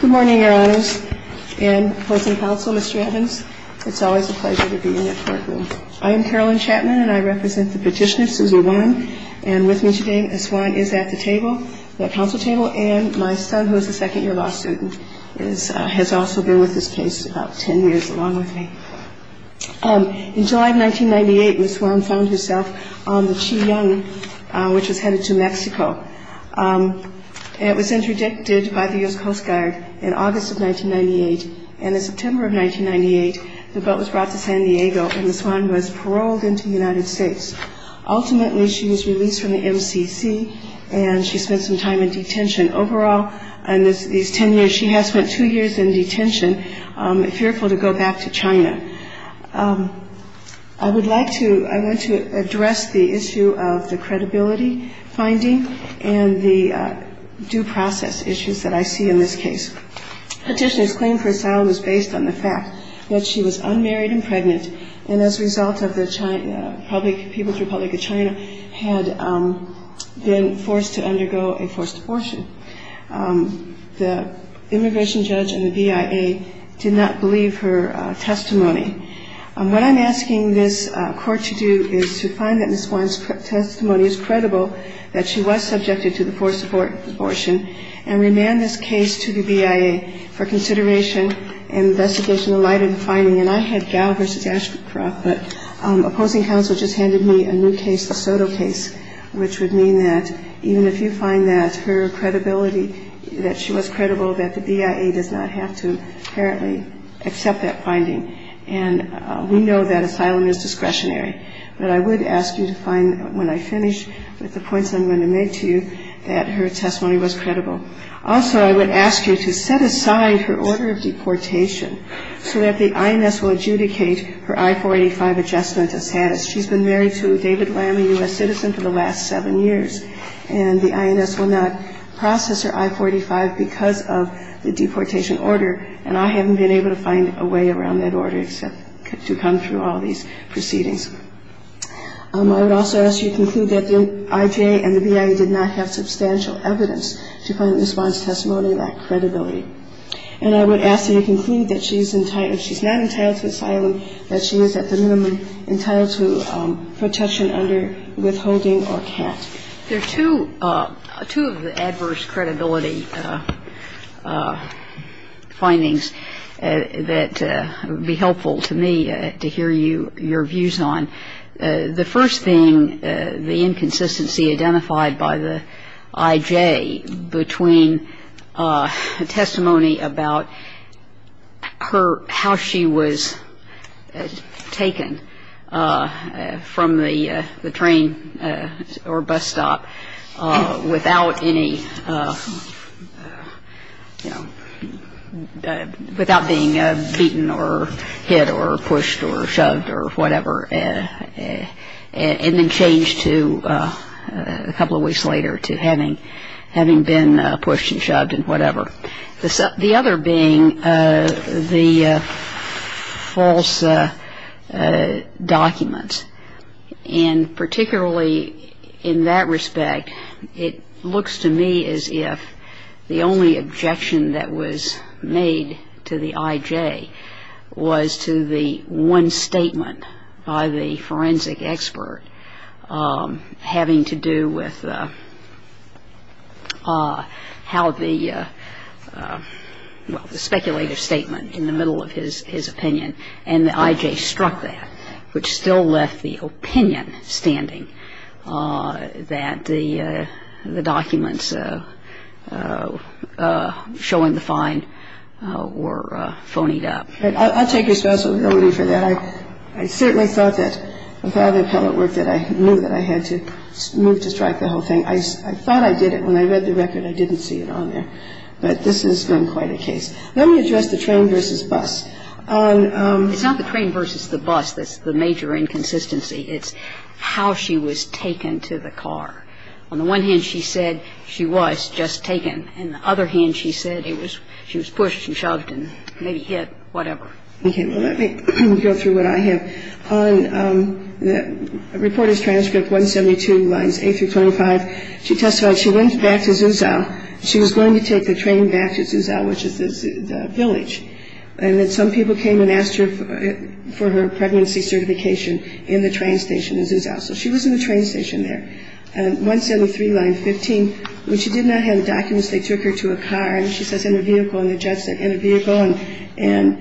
Good morning, Your Honors. And opposing counsel, Mr. Evans, it's always a pleasure to be in the courtroom. I am Carolyn Chapman, and I represent the petitioner, Suze Warren. And with me today, Ms. Warren is at the table, the counsel table, and my son, who is a second year law student, has also been with this case about ten years, along with me. In July of 1998, Ms. Warren found herself on the Chi-Yung, which was headed to Mexico. It was interdicted by the U.S. Coast Guard in August of 1998. And in September of 1998, the boat was brought to San Diego, and Ms. Warren was paroled into the United States. Ultimately, she was released from the MCC, and she spent some time in detention. And overall, in these ten years, she has spent two years in detention, fearful to go back to China. I would like to – I want to address the issue of the credibility finding and the due process issues that I see in this case. Petitioner's claim for asylum is based on the fact that she was unmarried and pregnant, and as a result of the public – People's Republic of China had been forced to undergo a forced abortion. The immigration judge and the BIA did not believe her testimony. What I'm asking this court to do is to find that Ms. Warren's testimony is credible, that she was subjected to the forced abortion, and remand this case to the BIA for consideration and investigation in light of the finding. And I had Gao v. Ashcroft, but opposing counsel just handed me a new case, the Soto case, which would mean that even if you find that her credibility, that she was credible, that the BIA does not have to apparently accept that finding. And we know that asylum is discretionary. But I would ask you to find, when I finish with the points I'm going to make to you, that her testimony was credible. Also, I would ask you to set aside her order of deportation so that the INS will adjudicate her I-485 adjustment of status. She's been married to a David Lamb, a U.S. citizen, for the last seven years, and the INS will not process her I-485 because of the deportation order, and I haven't been able to find a way around that order except to come through all these proceedings. I would also ask you to conclude that the IJA and the BIA did not have substantial evidence to find that Ms. Warren's testimony lacked credibility. And I would ask that you conclude that she's not entitled to asylum, that she is at the minimum entitled to protection under withholding or CAT. There are two of the adverse credibility findings that would be helpful to me to hear your views on. The first being the inconsistency identified by the IJA between testimony about her or how she was taken from the train or bus stop without any, you know, without being beaten or hit or pushed or shoved or whatever, and then changed to a couple of weeks later to having been pushed and shoved and whatever. The other being the false documents. And particularly in that respect, it looks to me as if the only objection that was made to the IJA was to the one statement by the forensic expert having to do with how the, well, the speculative statement in the middle of his opinion. And the IJA struck that, which still left the opinion standing that the documents showing the find were phonied up. I'll take responsibility for that. I certainly thought that with all the appellate work that I knew that I had to move to strike the whole thing. I thought I did it. When I read the record, I didn't see it on there. But this has been quite a case. Let me address the train versus bus. On the train versus the bus, that's the major inconsistency. It's how she was taken to the car. On the one hand, she said she was just taken. On the other hand, she said she was pushed and shoved and maybe hit, whatever. Okay. Well, let me go through what I have. On the reporter's transcript 172 lines 8 through 25, she testified she went back to Zuzau. She was going to take the train back to Zuzau, which is the village. And then some people came and asked her for her pregnancy certification in the train station in Zuzau. So she was in the train station there. 173 line 15, when she did not have the documents, they took her to a car. And she says, in a vehicle. And the judge said, in a vehicle. And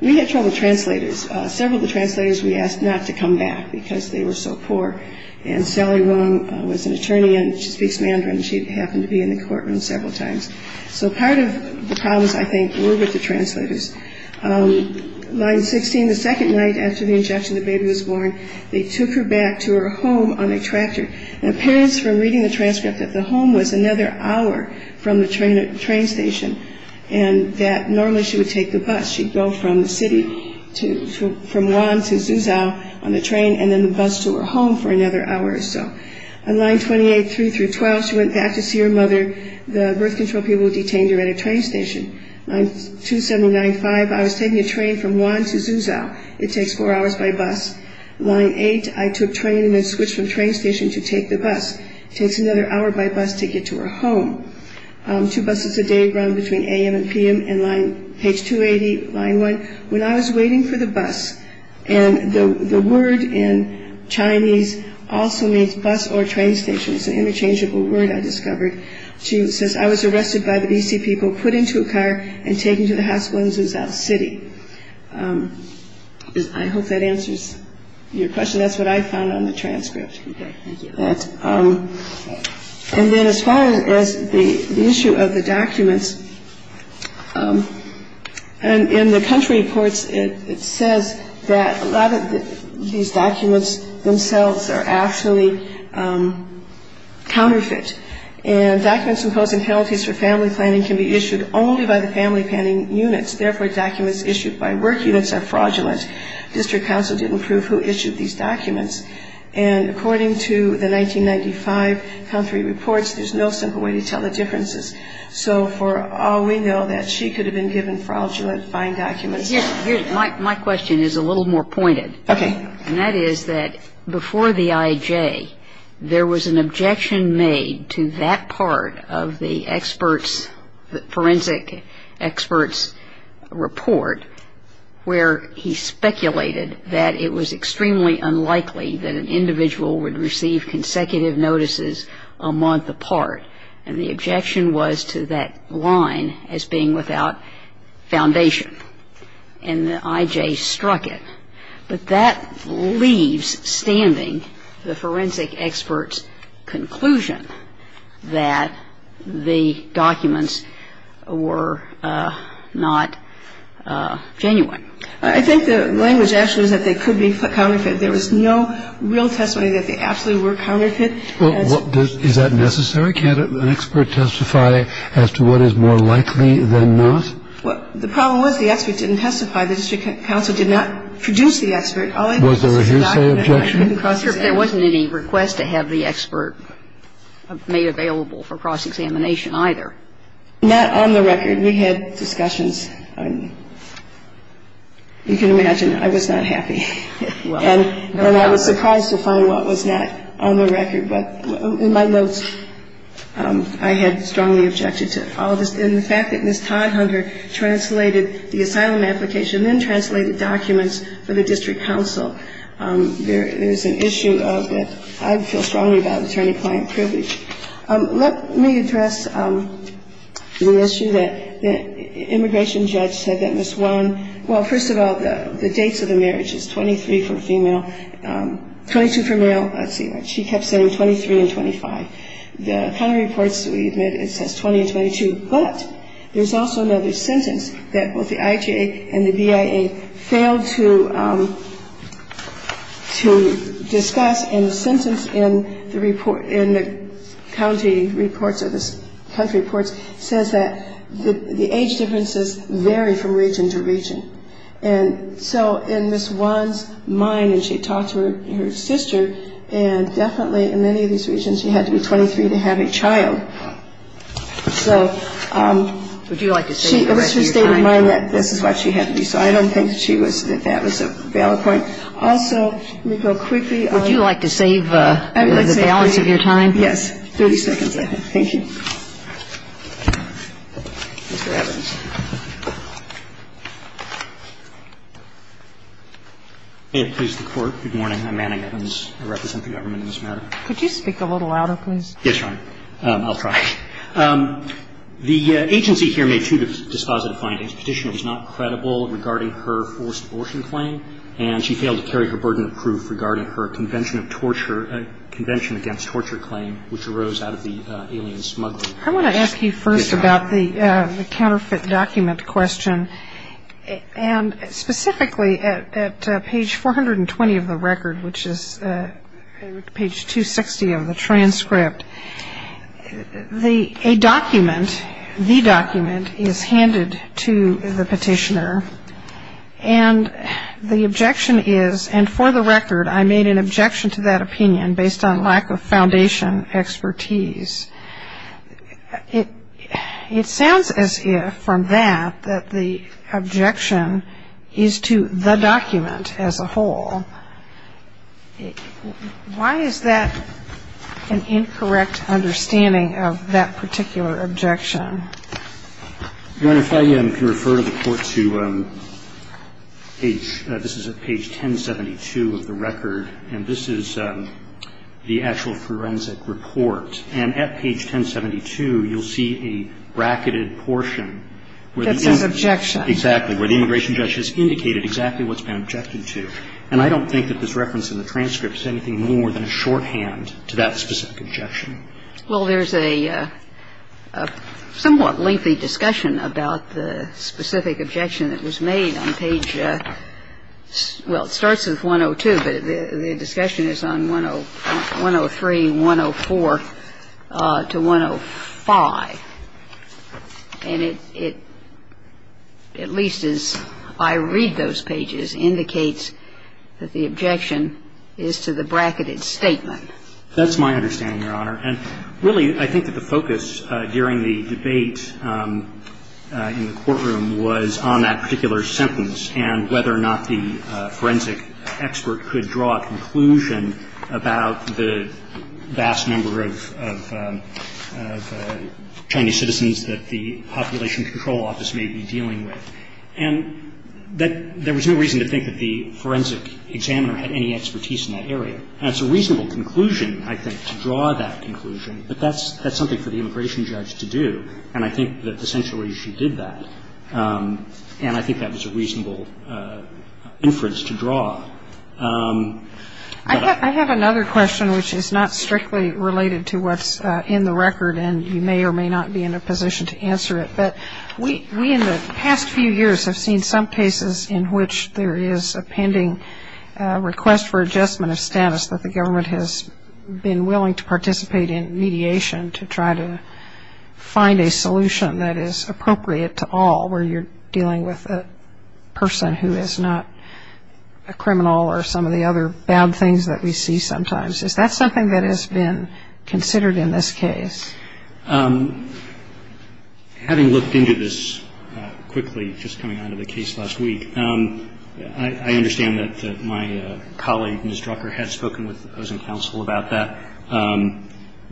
we had trouble with translators. Several of the translators we asked not to come back because they were so poor. And Sally Wong was an attorney, and she speaks Mandarin. She happened to be in the courtroom several times. So part of the problems, I think, were with the translators. Line 16, the second night after the injection, the baby was born. They took her back to her home on a tractor. And it appears from reading the transcript that the home was another hour from the train station, and that normally she would take the bus. She'd go from the city, from Wan to Zuzau on the train, and then the bus to her home for another hour or so. On line 28, 3 through 12, she went back to see her mother. The birth control people detained her at a train station. Line 279, 5, I was taking a train from Wan to Zuzau. It takes four hours by bus. Line 8, I took train and then switched from train station to take the bus. It takes another hour by bus to get to her home. Two buses a day run between a.m. and p.m. And line, page 280, line 1, when I was waiting for the bus, and the word in Chinese also means bus or train station. It's an interchangeable word, I discovered. She says, I was arrested by the D.C. people, put into a car, and taken to the hospital in Zuzau City. I hope that answers your question. That's what I found on the transcript. Okay, thank you. And then as far as the issue of the documents, in the country reports, it says that a lot of these documents themselves are actually counterfeit. And documents imposing penalties for family planning can be issued only by the family planning units. Therefore, documents issued by work units are fraudulent. District counsel didn't prove who issued these documents. And according to the 1995 country reports, there's no simple way to tell the differences. So for all we know, that she could have been given fraudulent, fine documents. My question is a little more pointed. Okay. And that is that before the I.J., there was an objection made to that part of the forensic experts' report where he speculated that it was extremely unlikely that an individual would receive consecutive notices a month apart. And the objection was to that line as being without foundation. And the I.J. struck it. But that leaves standing the forensic experts' conclusion that the documents were not genuine. I think the language actually is that they could be counterfeit. There was no real testimony that they absolutely were counterfeit. Is that necessary? Can't an expert testify as to what is more likely than not? Well, the problem was the expert didn't testify. The district counsel did not produce the expert. Was there a hearsay objection? There wasn't any request to have the expert made available for cross-examination either. Not on the record. We had discussions. You can imagine I was not happy. And I was surprised to find what was not on the record. But in my notes, I had strongly objected to all of this. And the fact that Ms. Todd-Hunter translated the asylum application and then translated documents for the district counsel, there is an issue of that I feel strongly about attorney-client privilege. Let me address the issue that the immigration judge said that Ms. Warren, well, first of all, the dates of the marriage is 23 for female, 22 for male. Let's see. She kept saying 23 and 25. The county reports, we admit, it says 20 and 22. But there's also another sentence that both the IJA and the BIA failed to discuss, and the sentence in the report, in the county reports or the country reports, says that the age differences vary from region to region. And so in Ms. Warren's mind, and she talked to her sister, she said that she was going to be 23 to have a child, and that was not what she was going to do. And definitely in many of these regions, she had to be 23 to have a child. So she always stayed in mind that this is what she had to do. So I don't think that she was the fabulous valid point. Also, let me go quickly on the balance of your time. Yes, 30 seconds I think. Thank you. Mr. Evans. Evans. Good morning. I'm Manning Evans. I represent the government in this matter. Could you speak a little louder, please? Yes, Your Honor. I'll try. The agency here made two dispositive findings. Petitioner was not credible regarding her forced abortion claim, and she failed to carry her burden of proof regarding her Convention Against Torture claim, which arose out of the alien smuggling. I want to ask you first about the counterfeit document question. And specifically at page 420 of the record, which is page 260 of the transcript, a document, the document, is handed to the petitioner, and the objection is, and for the record, I made an objection to that opinion based on lack of foundation expertise. It sounds as if, from that, that the objection is to the document as a whole. Why is that an incorrect understanding of that particular objection? Your Honor, if I can refer the Court to page, this is at page 1072 of the record, and this is the actual forensic report. And at page 1072, you'll see a bracketed portion. That's an objection. Exactly, where the immigration judge has indicated exactly what's been objected to. And I don't think that this reference in the transcript is anything more than a shorthand to that specific objection. Well, there's a somewhat lengthy discussion about the specific objection that was made on page – well, it starts with 102, but the discussion is on 103, 104 to 105. And it, at least as I read those pages, indicates that the objection is to the bracketed statement. That's my understanding, Your Honor. And, really, I think that the focus during the debate in the courtroom was on that particular sentence and whether or not the forensic expert could draw a conclusion about the vast number of Chinese citizens that the Population Control Office may be dealing with. And there was no reason to think that the forensic examiner had any expertise in that area. And it's a reasonable conclusion, I think, to draw that conclusion. But that's something for the immigration judge to do. And I think that, essentially, she did that. And I think that was a reasonable inference to draw. I have another question which is not strictly related to what's in the record, and you may or may not be in a position to answer it. But we, in the past few years, have seen some cases in which there is a pending request for adjustment of status that the government has been willing to participate in mediation to try to find a solution that is appropriate to all where you're dealing with a person who is not a criminal or some of the other bad things that we see sometimes. Is that something that has been considered in this case? Having looked into this quickly just coming out of the case last week, I understand that my colleague, Ms. Drucker, has spoken with the opposing counsel about that.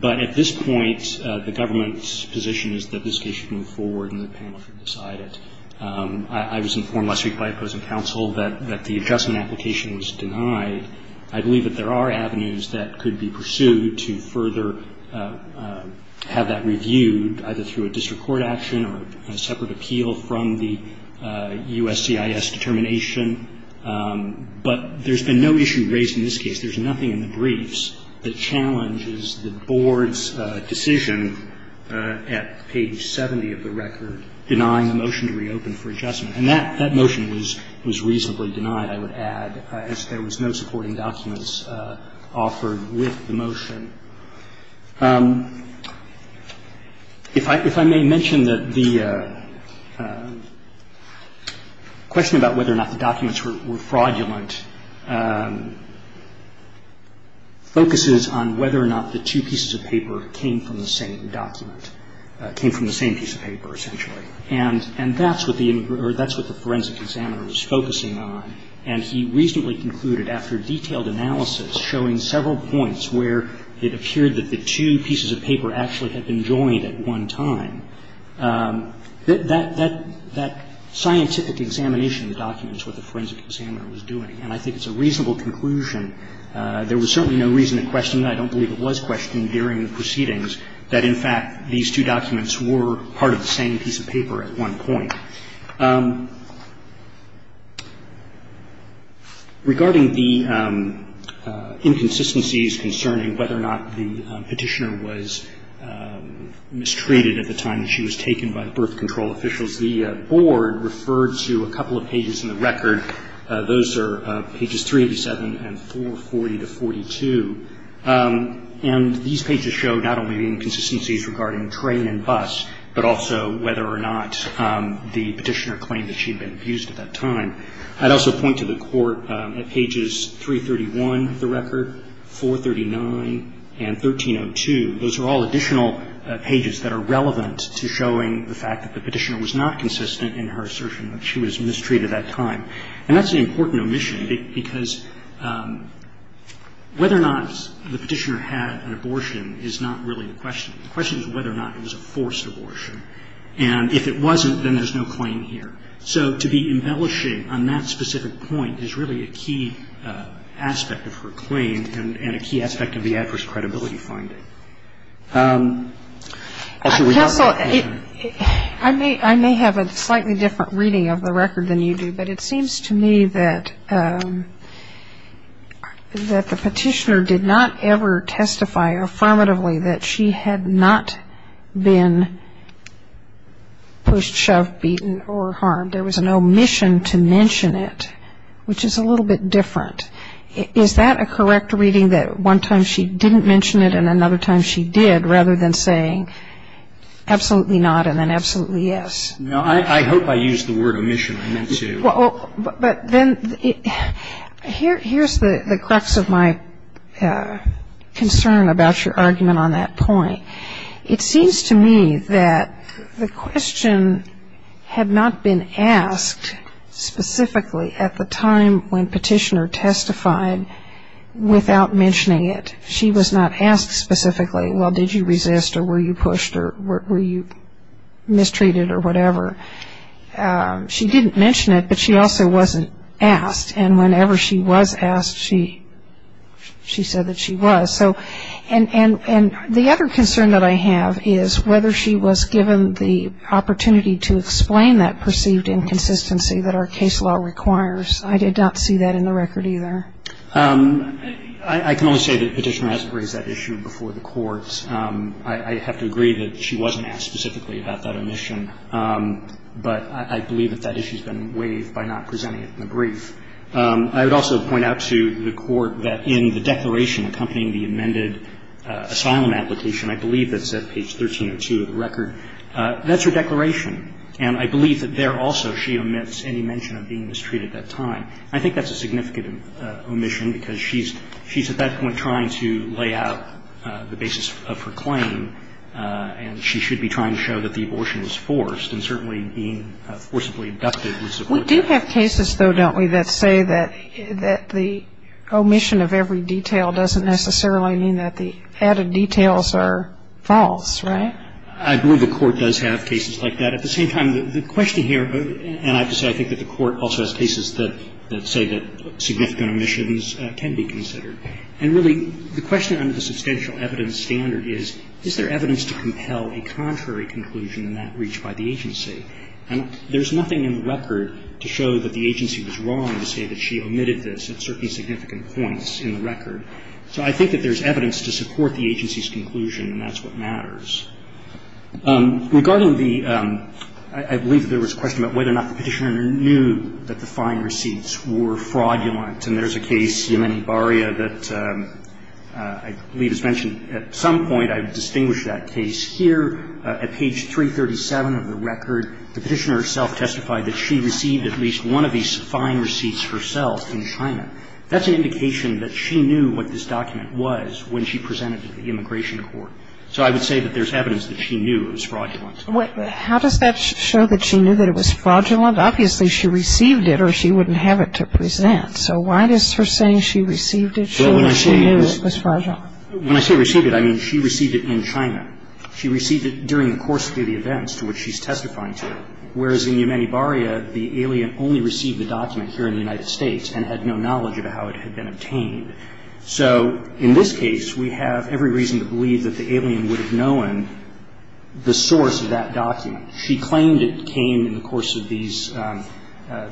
But at this point, the government's position is that this case should move forward and the panel should decide it. I was informed last week by opposing counsel that the adjustment application was denied. I believe that there are avenues that could be pursued to further have that reviewed, either through a district court action or a separate appeal from the USCIS determination. But there's been no issue raised in this case. There's nothing in the briefs that challenges the board's decision at page 70 of the record denying the motion to reopen for adjustment. And that motion was reasonably denied, I would add, as there was no supporting documents offered with the motion. If I may mention that the question about whether or not the documents were fraudulent focuses on whether or not the two pieces of paper came from the same document, came from the same piece of paper, essentially. And that's what the forensic examiner was focusing on. And he reasonably concluded, after detailed analysis showing several points where it appeared that the two pieces of paper actually had been joined at one time, that that scientific examination of the documents was what the forensic examiner was doing. And I think it's a reasonable conclusion. There was certainly no reason to question that. I don't believe it was questioned during the proceedings that, in fact, these two documents were part of the same piece of paper at one point. Regarding the inconsistencies concerning whether or not the petitioner was mistreated at the time that she was taken by the birth control officials, the board referred to a couple of pages in the record. Those are pages 387 and 440 to 42. And these pages show not only inconsistencies regarding train and bus, but also whether or not the petitioner claimed that she had been abused at that time. I'd also point to the court at pages 331 of the record, 439, and 1302. Those are all additional pages that are relevant to showing the fact that the petitioner was not consistent in her assertion that she was mistreated at that time. And that's an important omission, because whether or not the petitioner had an abortion is not really the question. The question is whether or not it was a forced abortion. And if it wasn't, then there's no claim here. So to be embellishing on that specific point is really a key aspect of her claim and a key aspect of the adverse credibility finding. Kagan. I may have a slightly different reading of the record than you do, but it seems to me that the petitioner did not ever testify affirmatively that she had not been pushed, shoved, beaten, or harmed. There was an omission to mention it, which is a little bit different. Is that a correct reading, that one time she didn't mention it and another time she did, rather than saying absolutely not and then absolutely yes? No, I hope I used the word omission. But then here's the crux of my concern about your argument on that point. It seems to me that the question had not been asked specifically at the time when petitioner testified without mentioning it. She was not asked specifically, well, did you resist or were you pushed or were you mistreated or whatever. She didn't mention it, but she also wasn't asked, and whenever she was asked, she said that she was. And the other concern that I have is whether she was given the opportunity to explain that perceived inconsistency that our case law requires. I did not see that in the record either. I can only say that petitioner has raised that issue before the courts. I have to agree that she wasn't asked specifically about that omission, but I believe that that issue has been waived by not presenting it in the brief. I would also point out to the Court that in the declaration accompanying the amended asylum application, I believe that's at page 1302 of the record, that's her declaration. And I believe that there also she omits any mention of being mistreated at that time. I think that's a significant omission because she's at that point trying to lay out the basis of her claim, and she should be trying to show that the abortion was forced, and certainly being forcibly abducted was aborted. We do have cases, though, don't we, that say that the omission of every detail doesn't necessarily mean that the added details are false, right? I believe the Court does have cases like that. At the same time, the question here, and I have to say I think that the Court also has cases that say that significant omissions can be considered. And really, the question under the substantial evidence standard is, is there evidence to compel a contrary conclusion in that reach by the agency? And there's nothing in the record to show that the agency was wrong to say that she omitted this at certain significant points in the record. So I think that there's evidence to support the agency's conclusion, and that's what matters. Regarding the – I believe there was a question about whether or not the Petitioner knew that the fine receipts were fraudulent. And there's a case, Yemeni Baria, that I believe is mentioned at some point. I've distinguished that case here. At page 337 of the record, the Petitioner herself testified that she received at least one of these fine receipts herself in China. That's an indication that she knew what this document was when she presented it to the Immigration Court. So I would say that there's evidence that she knew it was fraudulent. How does that show that she knew that it was fraudulent? Obviously, she received it or she wouldn't have it to present. So why does her saying she received it show that she knew it was fraudulent? When I say received it, I mean she received it in China. She received it during the course of the events to which she's testifying to, whereas in Yemeni Baria, the alien only received the document here in the United States and had no knowledge of how it had been obtained. So in this case, we have every reason to believe that the alien would have known the source of that document. She claimed it came in the course of these –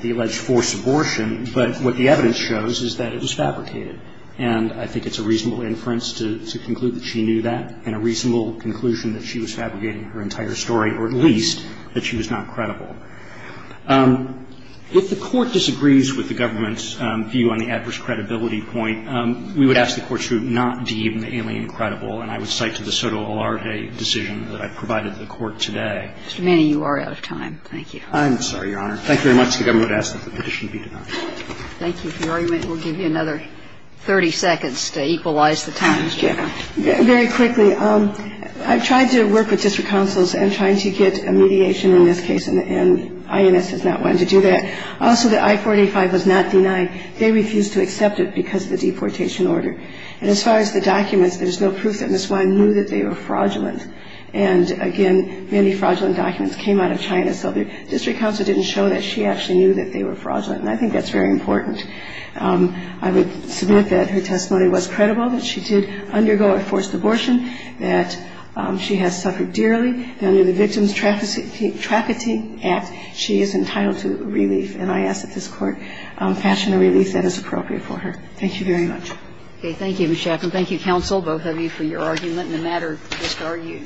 the alleged forced abortion. But what the evidence shows is that it was fabricated. And I think it's a reasonable inference to conclude that she knew that and a reasonable conclusion that she was fabricating her entire story, or at least that she was not credible. If the Court disagrees with the government's view on the adverse credibility point, we would ask the Court to not deem the alien credible. And I would cite to the SOTO Alarte decision that I provided to the Court today. Kagan. Mr. Manning, you are out of time. Thank you. I'm sorry, Your Honor. Thank you very much. The government would ask that the petition be denied. Thank you for your argument. We'll give you another 30 seconds to equalize the time, Ms. Jaffer. Very quickly. I've tried to work with district councils in trying to get a mediation in this case, and INS has not wanted to do that. Also, the I-485 was not denied. They refused to accept it because of the deportation order. And as far as the documents, there is no proof that Ms. Wein knew that they were fraudulent. And again, many fraudulent documents came out of China, so the district council didn't show that she actually knew that they were fraudulent. And I think that's very important. I would submit that her testimony was credible, that she did undergo a forced abortion, that she has suffered dearly, and under the Victims Trafficking Act, she is entitled to relief. And I ask that this Court fashion a relief that is appropriate for her. Thank you very much. Okay. Thank you, Ms. Jaffer. And thank you, counsel, both of you, for your argument. And the matter just argued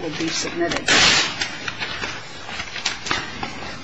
will be submitted. Thank you.